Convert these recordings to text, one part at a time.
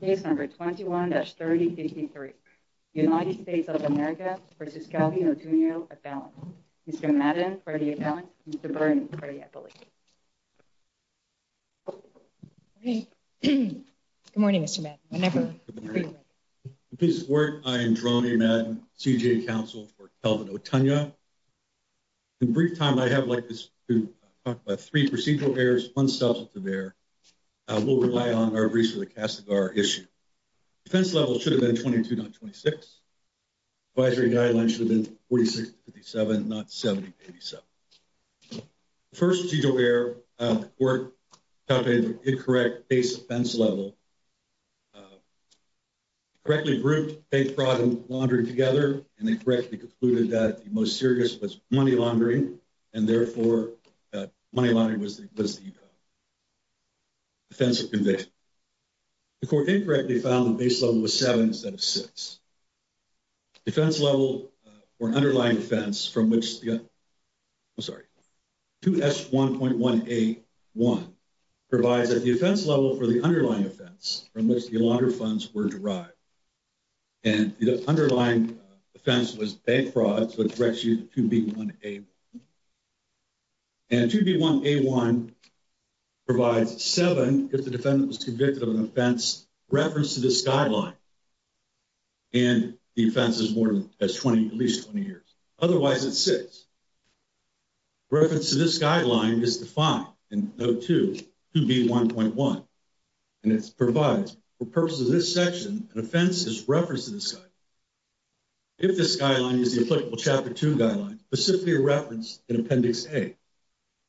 Case number 21-3053. United States of America v. Kelvin Otunyo, Appellant. Mr. Madden for the Appellant. Mr. Byrne for the Appellant. Good morning, Mr. Madden. I'm Drony Madden, CJA Counsel for Kelvin Otunyo. In brief time, I'd like to talk about three procedural errors, one substantive error. We'll rely on our briefs for the CASAGAR issue. Defense level should have been 22, not 26. Advisory guidelines should have been 46 to 57, not 70 to 87. The first procedural error, the court found an incorrect base offense level. Correctly grouped fake fraud and laundering together, and they correctly concluded that the most serious was money laundering, and therefore money laundering was the offense of conviction. The court incorrectly found the base level was 7 instead of 6. Defense level for an underlying offense from which the, I'm sorry, 2S1.1A1 provides that the offense level for the underlying offense from which the laundered funds were derived. And the underlying offense was bank fraud, so it corrects you to 2B1A1. And 2B1A1 provides 7 if the defendant was convicted of an offense in reference to this guideline. And the offense is more than 20, at least 20 years. Otherwise, it's 6. Reference to this guideline is defined in Note 2, 2B1.1. And it provides, for purposes of this section, an offense as reference to this guideline. If this guideline is the applicable Chapter 2 guideline, specifically referenced in Appendix A,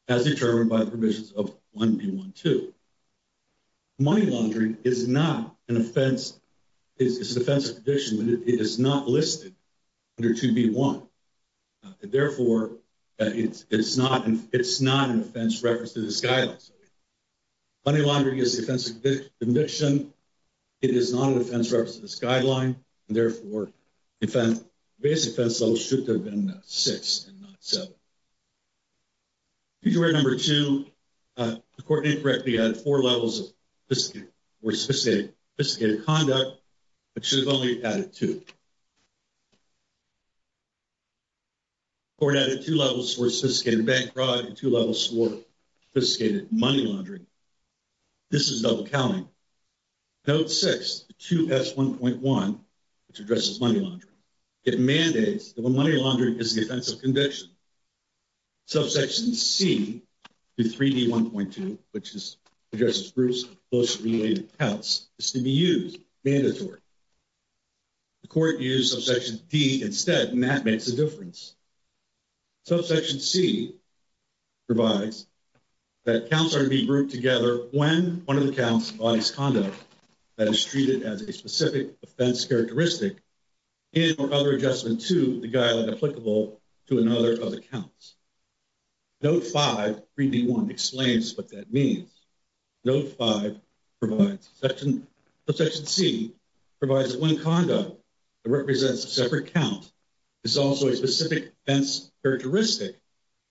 as determined by the provisions of 1B1.2. Money laundering is not an offense, it's an offense of conviction, but it is not listed under 2B1. And therefore, it's not an offense referenced in this guideline. Money laundering is an offense of conviction. It is not an offense referenced in this guideline. And therefore, the base offense level should have been 6 and not 7. Feature number 2, the court incorrectly added 4 levels for sophisticated conduct, but should have only added 2. The court added 2 levels for sophisticated bank fraud and 2 levels for sophisticated money laundering. This is double counting. Note 6, 2B1.1, which addresses money laundering, it mandates that when money laundering is the offense of conviction, Subsection C, 3D1.2, which addresses groups of closely related accounts, is to be used, mandatory. The court used Subsection D instead, and that makes a difference. Subsection C provides that accounts are to be grouped together when one of the accounts embodies conduct that is treated as a specific offense characteristic in or other adjustment to the guideline applicable to another of the accounts. Note 5, 3D1, explains what that means. Note 5 provides, Subsection C provides that when conduct that represents a separate account is also a specific offense characteristic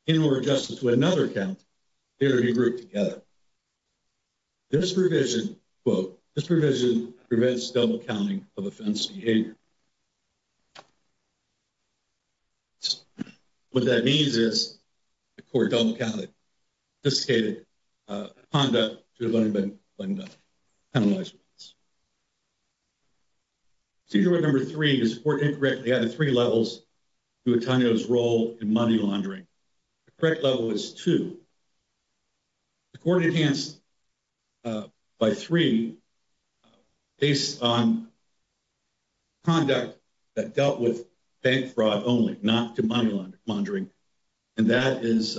in or adjustment to another account, they are to be grouped together. This provision, quote, this provision prevents double counting of offense behavior. What that means is the court double counted sophisticated conduct to have only been penalized. Procedure number 3, the court incorrectly added 3 levels to Antonio's role in money laundering. The correct level is 2. The court enhanced by 3 based on conduct that dealt with bank fraud only, not to money laundering, and that is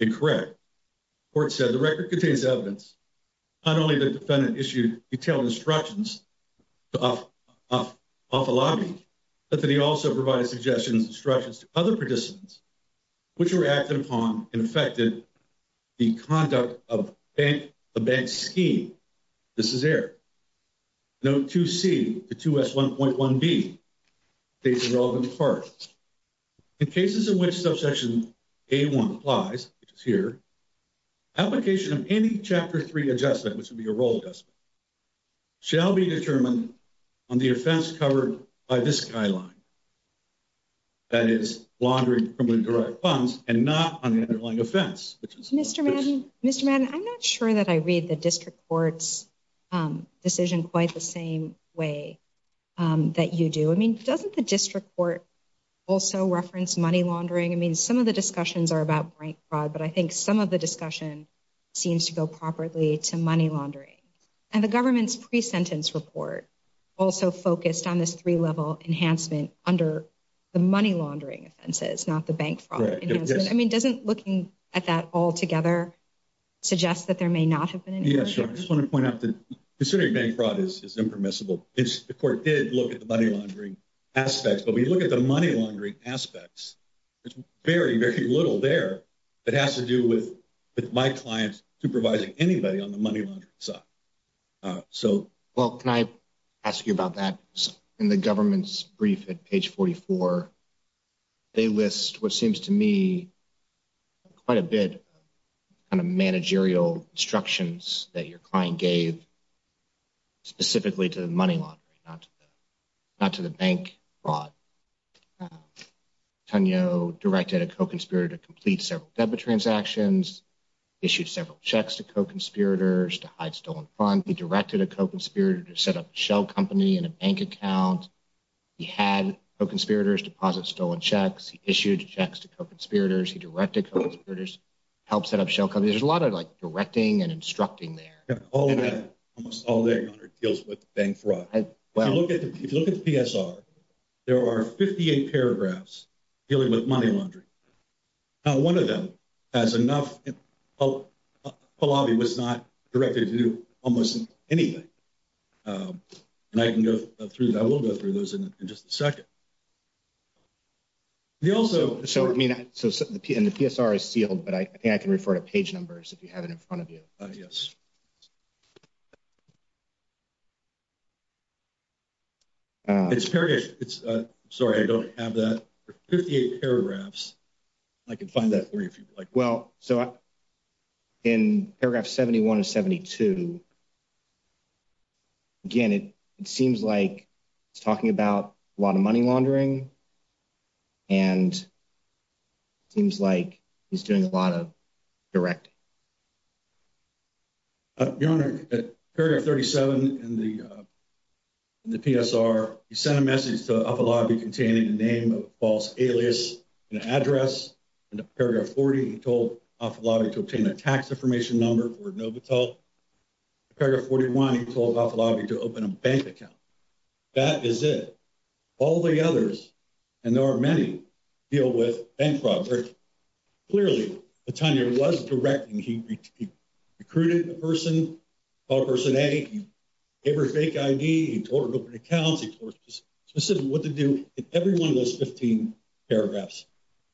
incorrect. The court said the record contains evidence not only that the defendant issued detailed instructions off the lobby, but that he also provided suggestions and instructions to other participants which were acted upon and affected the conduct of the bank's scheme. This is error. Note 2C to 2S1.1B states the relevant part. In cases in which Subsection A1 applies, which is here, application of any Chapter 3 adjustment, which would be a role adjustment, shall be determined on the offense covered by this guideline, that is, laundering of criminally derived funds, and not on the underlying offense. Mr. Madden, I'm not sure that I read the district court's decision quite the same way that you do. I mean, doesn't the district court also reference money laundering? I mean, some of the discussions are about bank fraud, but I think some of the discussion seems to go properly to money laundering. And the government's pre-sentence report also focused on this 3-level enhancement under the money laundering offenses, not the bank fraud. I mean, doesn't looking at that all together suggest that there may not have been any? Yeah, sure. I just want to point out that considering bank fraud is impermissible, the court did look at the money laundering aspects. But when you look at the money laundering aspects, there's very, very little there that has to do with my clients supervising anybody on the money laundering side. Well, can I ask you about that? In the government's brief at page 44, they list what seems to me quite a bit of managerial instructions that your client gave specifically to the money laundering, not to the bank fraud. Tanyo directed a co-conspirator to complete several debit transactions, issued several checks to co-conspirators to hide stolen funds. He directed a co-conspirator to set up a shell company in a bank account. He had co-conspirators deposit stolen checks. He issued checks to co-conspirators. He directed co-conspirators to help set up shell companies. There's a lot of, like, directing and instructing there. Almost all of that deals with bank fraud. If you look at the PSR, there are 58 paragraphs dealing with money laundering. Not one of them has enough – Pahlavi was not directed to do almost anything. And I can go through – I will go through those in just a second. He also – So, I mean – and the PSR is sealed, but I think I can refer to page numbers if you have it in front of you. Yes. It's – sorry, I don't have that. Fifty-eight paragraphs. I can find that for you if you'd like. Well, so in paragraph 71 and 72, again, it seems like it's talking about a lot of money laundering and seems like he's doing a lot of directing. Your Honor, paragraph 37 in the PSR, he sent a message to Pahlavi containing the name of a false alias and address. In paragraph 40, he told Pahlavi to obtain a tax information number for Novotel. In paragraph 41, he told Pahlavi to open a bank account. That is it. All the others, and there are many, deal with bank fraud. Clearly, the tenure was directing. He recruited a person, called person A. He gave her a fake ID. He told her to open accounts. He told her specifically what to do. Every one of those 15 paragraphs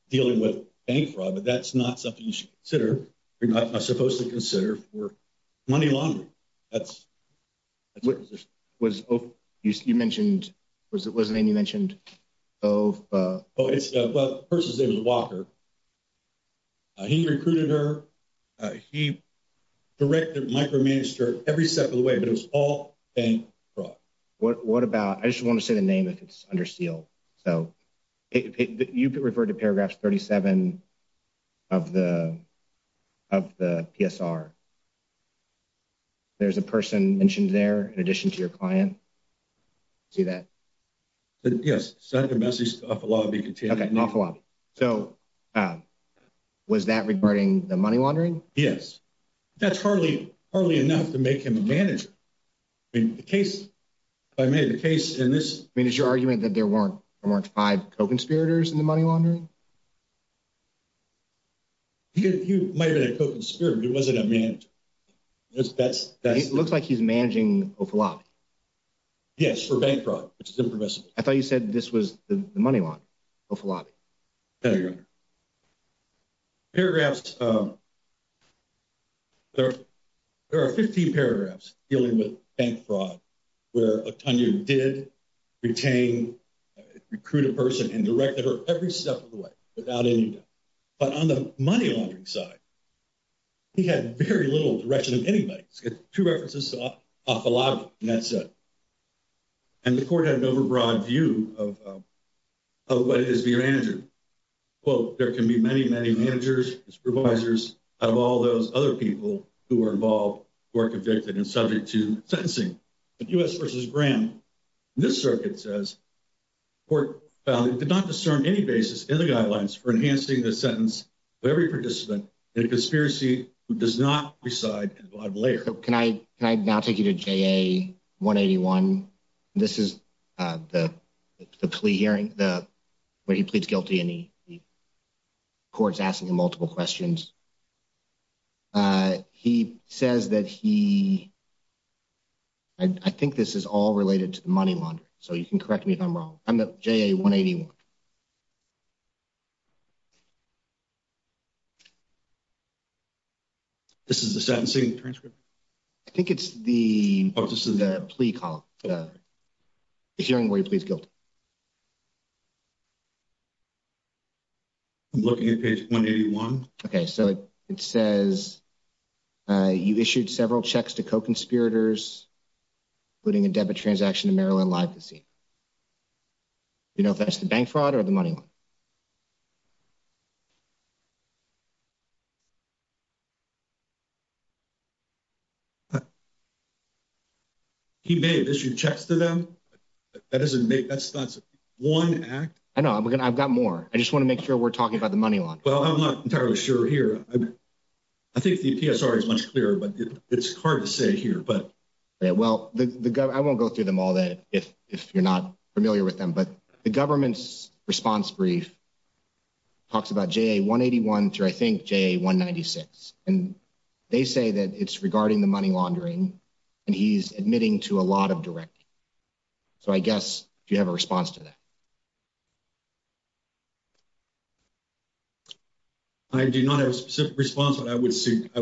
dealing with bank fraud, but that's not something you should consider. You're not supposed to consider for money laundering. That's – Was – you mentioned – what was the name you mentioned? Oh, it's – well, the person's name is Walker. He recruited her. He directed, micromanaged her every step of the way, but it was all bank fraud. What about – I just want to say the name if it's under seal. So you referred to paragraph 37 of the PSR. There's a person mentioned there in addition to your client. See that? Yes, send a message to Ofolabi. Okay, Ofolabi. So was that regarding the money laundering? Yes. That's hardly enough to make him a manager. I mean, the case – if I made the case in this – I mean, is your argument that there weren't five co-conspirators in the money laundering? He might have been a co-conspirator, but he wasn't a manager. That's – It looks like he's managing Ofolabi. Yes, for bank fraud, which is impermissible. I thought you said this was the money launderer, Ofolabi. No, Your Honor. Paragraphs – there are 15 paragraphs dealing with bank fraud where Otonio did retain – recruit a person and directed her every step of the way without any doubt. But on the money laundering side, he had very little direction of anybody. He's got two references to Ofolabi in that set. And the court had an overbroad view of what it is to be a manager. Quote, there can be many, many managers, supervisors, out of all those other people who are involved who are convicted and subject to sentencing. But U.S. v. Graham, this circuit says, the court found it did not discern any basis in the guidelines for enhancing the sentence for every participant in a conspiracy who does not reside in a broad layer. Can I now take you to JA-181? This is the plea hearing where he pleads guilty and the court's asking him multiple questions. He says that he – I think this is all related to the money launderer, so you can correct me if I'm wrong. I'm at JA-181. This is the sentencing transcript. I think it's the plea call, the hearing where he pleads guilty. I'm looking at page 181. Okay, so it says, you issued several checks to co-conspirators, including a debit transaction to Maryland Live Casino. Do you know if that's the bank fraud or the money one? He may have issued checks to them. That doesn't make – that's not one act. I know. I've got more. I just want to make sure we're talking about the money launderer. Well, I'm not entirely sure here. I think the PSR is much clearer, but it's hard to say here. Yeah, well, I won't go through them all if you're not familiar with them, but the government's response brief talks about JA-181, through, I think, JA-196, and they say that it's regarding the money laundering and he's admitting to a lot of directing. So I guess, do you have a response to that? I do not have a specific response, but I would say –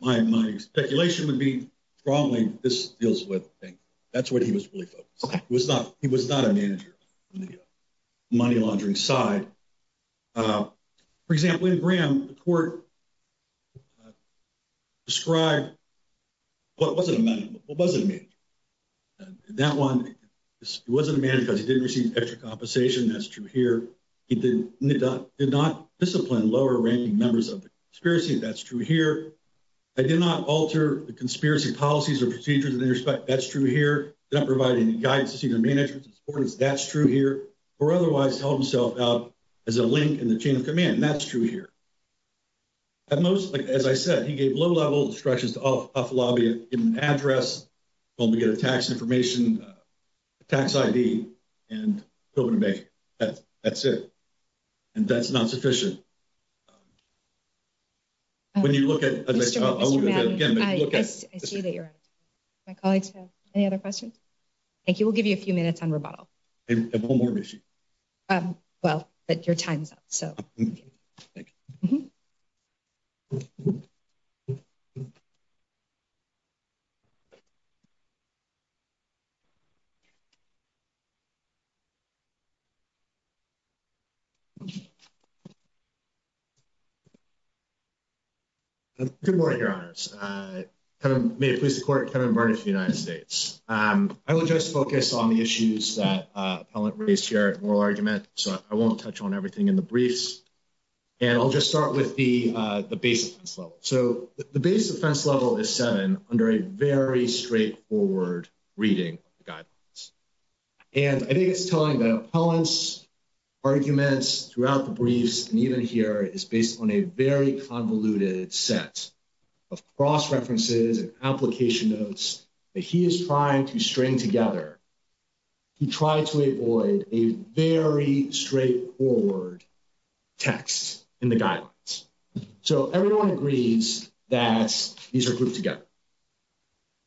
my speculation would be strongly this deals with the bank. That's what he was really focused on. He was not a manager on the money laundering side. For example, in Graham, the court described – well, it wasn't a manager. That one, it wasn't a manager because he didn't receive extra compensation. That's true here. He did not discipline lower-ranking members of the conspiracy. That's true here. They did not alter the conspiracy policies or procedures in their respect. That's true here. They don't provide any guidance to senior managers. That's true here. Or otherwise held himself out as a link in the chain of command. That's true here. At most, as I said, he gave low-level instructions to off-lobby, given an address, told him to get a tax information, a tax ID, and go to the bank. That's it. And that's not sufficient. When you look at – Mr. Madden, I see that you're out of time. My colleagues have any other questions? Thank you. We'll give you a few minutes on rebuttal. I have one more issue. Well, but your time's up, so. Thank you. Good morning, Your Honors. May it please the Court, Kevin Barnett for the United States. I will just focus on the issues that appellant raised here at moral argument, so I won't touch on everything in the briefs. And I'll just start with the base offense level. So the base offense level is seven under a very straightforward reading of the guidelines. And I think it's telling that appellant's arguments throughout the briefs and even here is based on a very convoluted set of cross-references and application notes that he is trying to string together to try to avoid a very straightforward text in the guidelines. So everyone agrees that these are grouped together.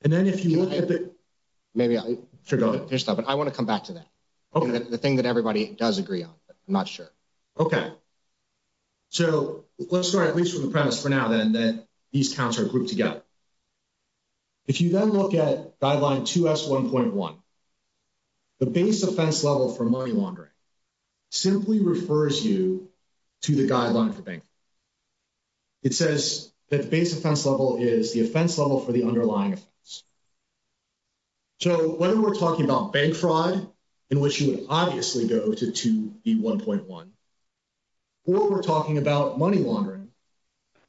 And then if you look at the – Maybe I – Sure, go ahead. But I want to come back to that. Okay. The thing that everybody does agree on, but I'm not sure. Okay. So let's start at least from the premise for now, then, that these counts are grouped together. If you then look at Guideline 2S1.1, the base offense level for money laundering simply refers you to the guideline for bank fraud. It says that the base offense level is the offense level for the underlying offense. So whether we're talking about bank fraud, in which you would obviously go to 2B1.1, or we're talking about money laundering,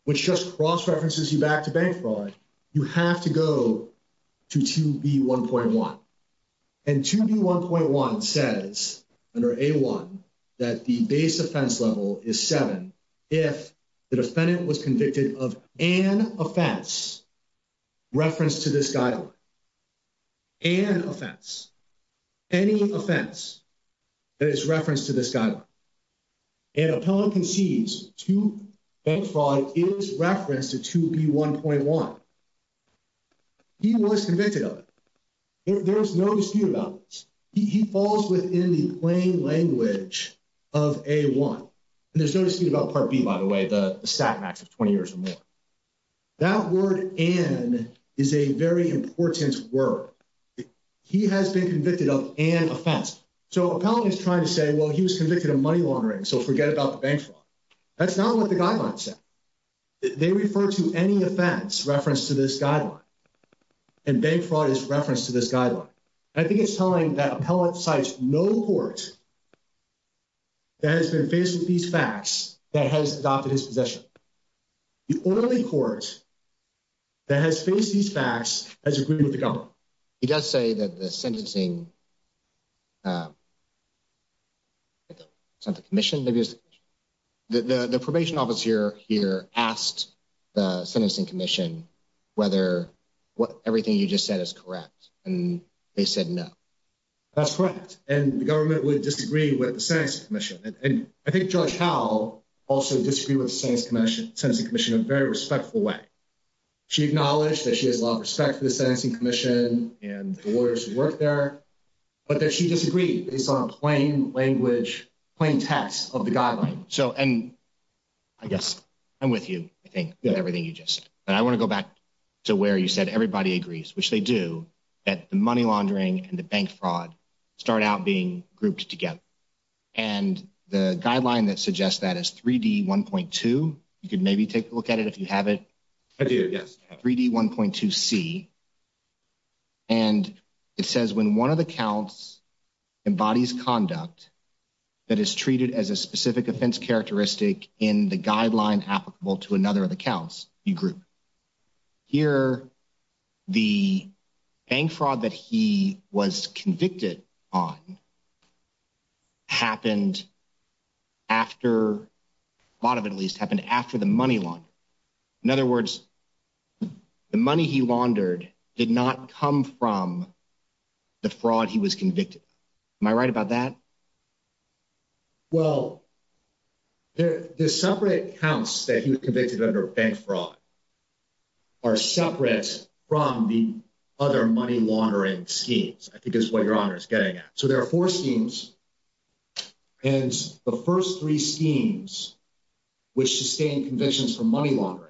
which just cross-references you back to bank fraud, you have to go to 2B1.1. And 2B1.1 says, under A1, that the base offense level is seven if the defendant was convicted of an offense referenced to this guideline. An offense. Any offense that is referenced to this guideline. An appellant concedes to bank fraud is referenced to 2B1.1. He was convicted of it. There is no dispute about this. He falls within the plain language of A1. And there's no dispute about Part B, by the way, the stat max of 20 years or more. That word, an, is a very important word. He has been convicted of an offense. So an appellant is trying to say, well, he was convicted of money laundering, so forget about the bank fraud. That's not what the guideline said. They refer to any offense referenced to this guideline. And bank fraud is referenced to this guideline. And I think it's telling that appellant cites no court that has been faced with these facts that has adopted his possession. The only court that has faced these facts has agreed with the government. He does say that the sentencing, sent the commission. The probation officer here asked the sentencing commission whether everything you just said is correct. And they said no. That's correct. And the government would disagree with the sentencing commission. And I think Judge Howell also disagreed with the sentencing commission in a very respectful way. She acknowledged that she has a lot of respect for the sentencing commission and the lawyers who work there. But that she disagreed based on a plain language, plain text of the guideline. So, and I guess I'm with you, I think, with everything you just said. But I want to go back to where you said everybody agrees, which they do, that the money laundering and the bank fraud start out being grouped together. And the guideline that suggests that is 3D1.2. You could maybe take a look at it if you have it. I do, yes. 3D1.2C. And it says when one of the counts embodies conduct that is treated as a specific offense characteristic in the guideline applicable to another of the counts, you group. Here, the bank fraud that he was convicted on happened after, a lot of it at least, happened after the money laundering. In other words, the money he laundered did not come from the fraud he was convicted of. Am I right about that? Well, the separate counts that he was convicted under bank fraud are separate from the other money laundering schemes, I think is what Your Honor is getting at. So there are four schemes, and the first three schemes, which sustain convictions for money laundering,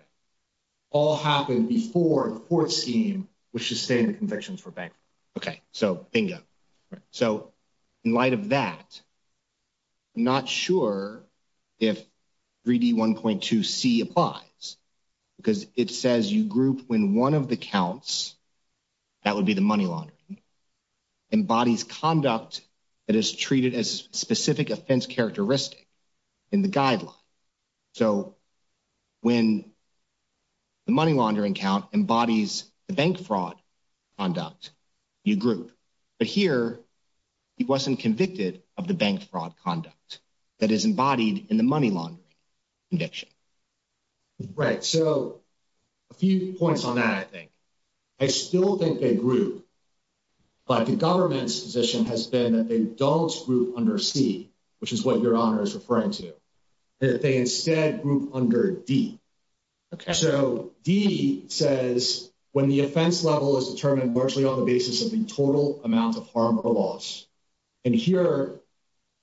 all happened before the fourth scheme, which sustained convictions for bank fraud. Okay, so bingo. So in light of that, I'm not sure if 3D1.2C applies because it says you group when one of the counts, that would be the money laundering, embodies conduct that is treated as a specific offense characteristic in the guideline. So when the money laundering count embodies the bank fraud conduct, you group. But here, he wasn't convicted of the bank fraud conduct that is embodied in the money laundering conviction. Right, so a few points on that, I think. I still think they group, but the government's position has been that they don't group under C, which is what Your Honor is referring to, that they instead group under D. So D says, when the offense level is determined largely on the basis of the total amount of harm or loss. And here,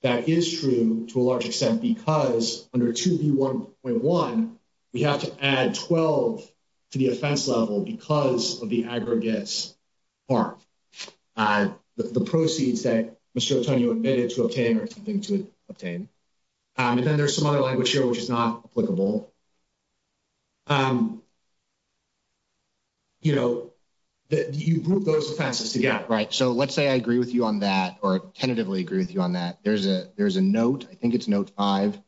that is true to a large extent because under 2B1.1, we have to add 12 to the offense level because of the aggregate harm. The proceeds that Mr. Otonio admitted to obtain are something to obtain. And then there's some other language here, which is not applicable. You group those offenses together. Right, so let's say I agree with you on that or tentatively agree with you on that. There's a note, I think it's Note 5,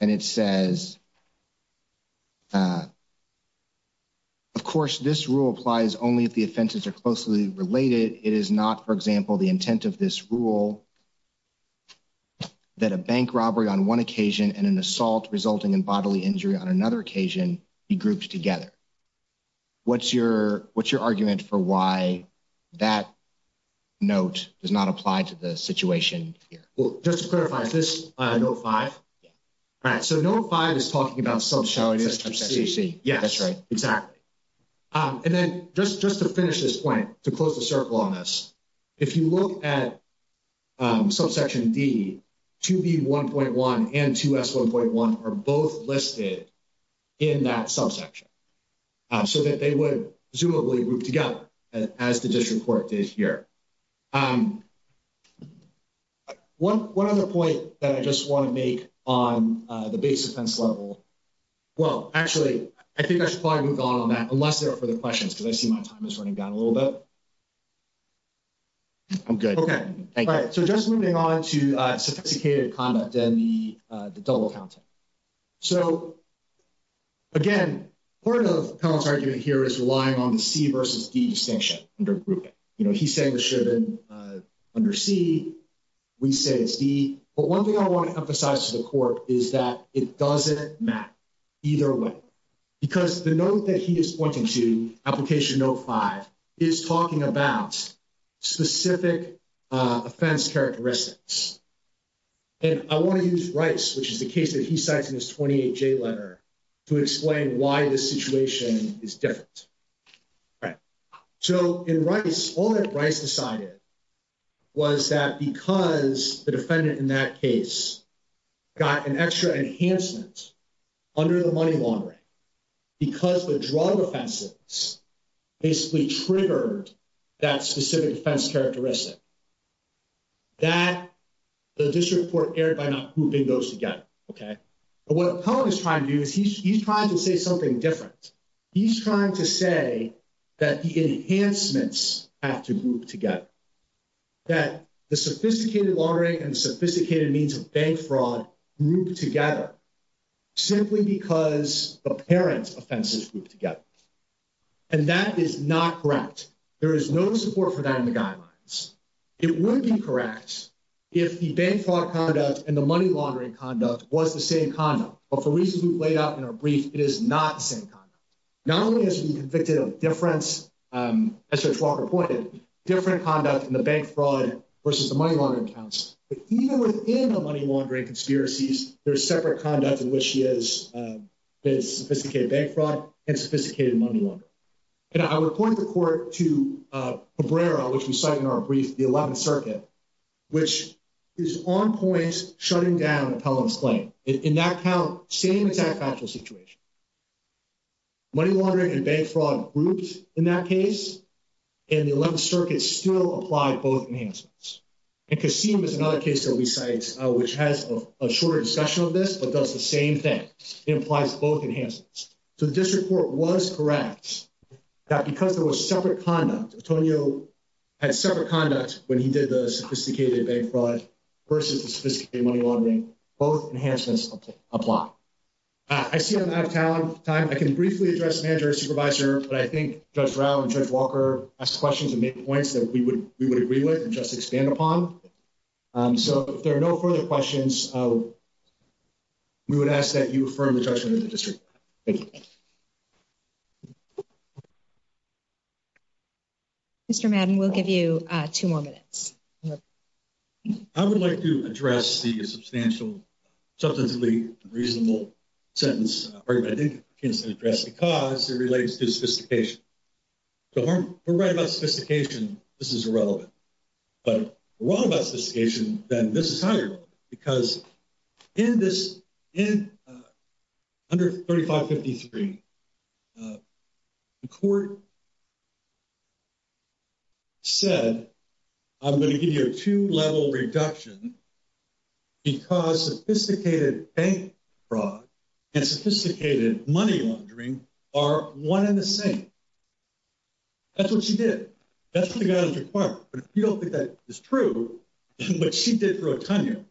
and it says, of course, this rule applies only if the offenses are closely related. It is not, for example, the intent of this rule that a bank robbery on one occasion and an assault resulting in bodily injury on another occasion be grouped together. What's your argument for why that note does not apply to the situation here? Well, just to clarify, is this Note 5? Yeah. All right, so Note 5 is talking about subsidies of C. Yes. That's right. Exactly. And then just to finish this point, to close the circle on this, if you look at subsection D, 2B1.1 and 2S1.1 are both listed in that subsection. So that they would presumably group together as the district court did here. One other point that I just want to make on the base offense level. Well, actually, I think I should probably move on on that unless there are further questions because I see my time is running down a little bit. I'm good. Okay. All right, so just moving on to sophisticated conduct and the double counting. So, again, part of Cohen's argument here is relying on the C versus D distinction under grouping. He's saying it should have been under C. We say it's D. But one thing I want to emphasize to the court is that it doesn't matter either way. Because the note that he is pointing to, application Note 5, is talking about specific offense characteristics. And I want to use Rice, which is the case that he cites in his 28J letter, to explain why this situation is different. All right. So, in Rice, all that Rice decided was that because the defendant in that case got an extra enhancement under the money laundering, because the drug offenses basically triggered that specific offense characteristic, that the district court erred by not grouping those together. But what Cohen is trying to do is he's trying to say something different. He's trying to say that the enhancements have to group together. That the sophisticated laundering and the sophisticated means of bank fraud group together, simply because the parent's offenses group together. And that is not correct. There is no support for that in the guidelines. It would be correct if the bank fraud conduct and the money laundering conduct was the same conduct. But for reasons we've laid out in our brief, it is not the same conduct. Not only has he been convicted of different, as Judge Walker pointed, different conduct in the bank fraud versus the money laundering counts, but even within the money laundering conspiracies, there is separate conduct in which he has sophisticated bank fraud and sophisticated money laundering. And I would point the court to Cabrera, which we cite in our brief, the 11th Circuit, which is on point shutting down Appellant's claim. In that count, same exact factual situation. Money laundering and bank fraud grouped in that case, and the 11th Circuit still applied both enhancements. And Kasim is another case that we cite, which has a shorter discussion of this, but does the same thing. It applies to both enhancements. So the district court was correct that because there was separate conduct, Antonio had separate conduct when he did the sophisticated bank fraud versus the sophisticated money laundering. Both enhancements apply. I see I'm out of time. I can briefly address Manager and Supervisor, but I think Judge Rao and Judge Walker asked questions and made points that we would agree with and just expand upon. So if there are no further questions, we would ask that you affirm the judgment of the district. Thank you. Thank you. Mr. Madden, we'll give you two more minutes. I would like to address the substantial, substantively reasonable sentence. I think it's addressed because it relates to sophistication. If we're right about sophistication, this is irrelevant. But if we're wrong about sophistication, then this is highly relevant. Because under 3553, the court said, I'm going to give you a two-level reduction because sophisticated bank fraud and sophisticated money laundering are one and the same. That's what she did. That's what the guidance required. But if you don't think that is true, what she did for Otonio,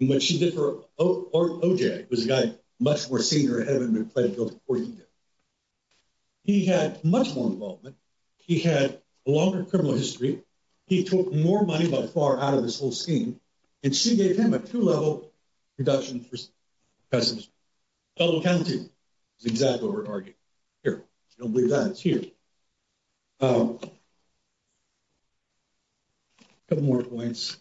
and what she did for OJ, who was a guy much more senior, had him implicated before he did. He had much more involvement. He had a longer criminal history. He took more money by far out of this whole scheme, and she gave him a two-level reduction for sophistication. Double counting is exactly what we're arguing here. I don't believe that. It's here. A couple more points.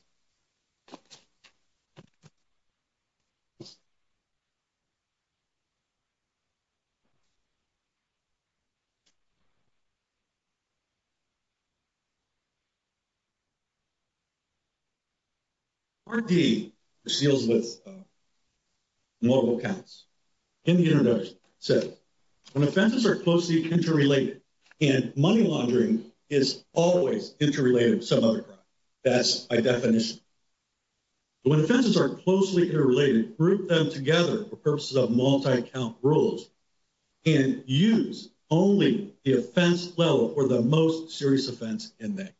Part D, which deals with multiple counts, in the internet, says when offenses are closely interrelated, and money laundering is always interrelated with some other crime. That's my definition. When offenses are closely interrelated, group them together for purposes of multi-count rules and use only the offense level for the most serious offense in there.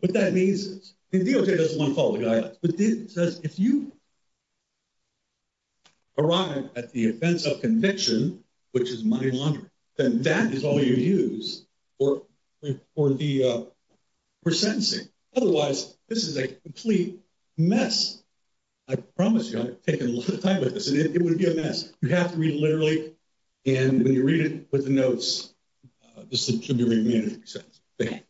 What that means is, and DOJ doesn't want to follow the guidance, but it says if you arrive at the offense of conviction, which is money laundering, then that is all you use for sentencing. Otherwise, this is a complete mess. I promise you, I've taken a lot of time with this, and it would be a mess. You have to read it literally, and when you read it with the notes, this should be a very manageable sentence. Thank you.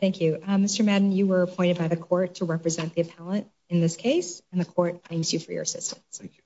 Thank you. Mr. Madden, you were appointed by the court to represent the appellant in this case, and the court thanks you for your assistance. Thank you.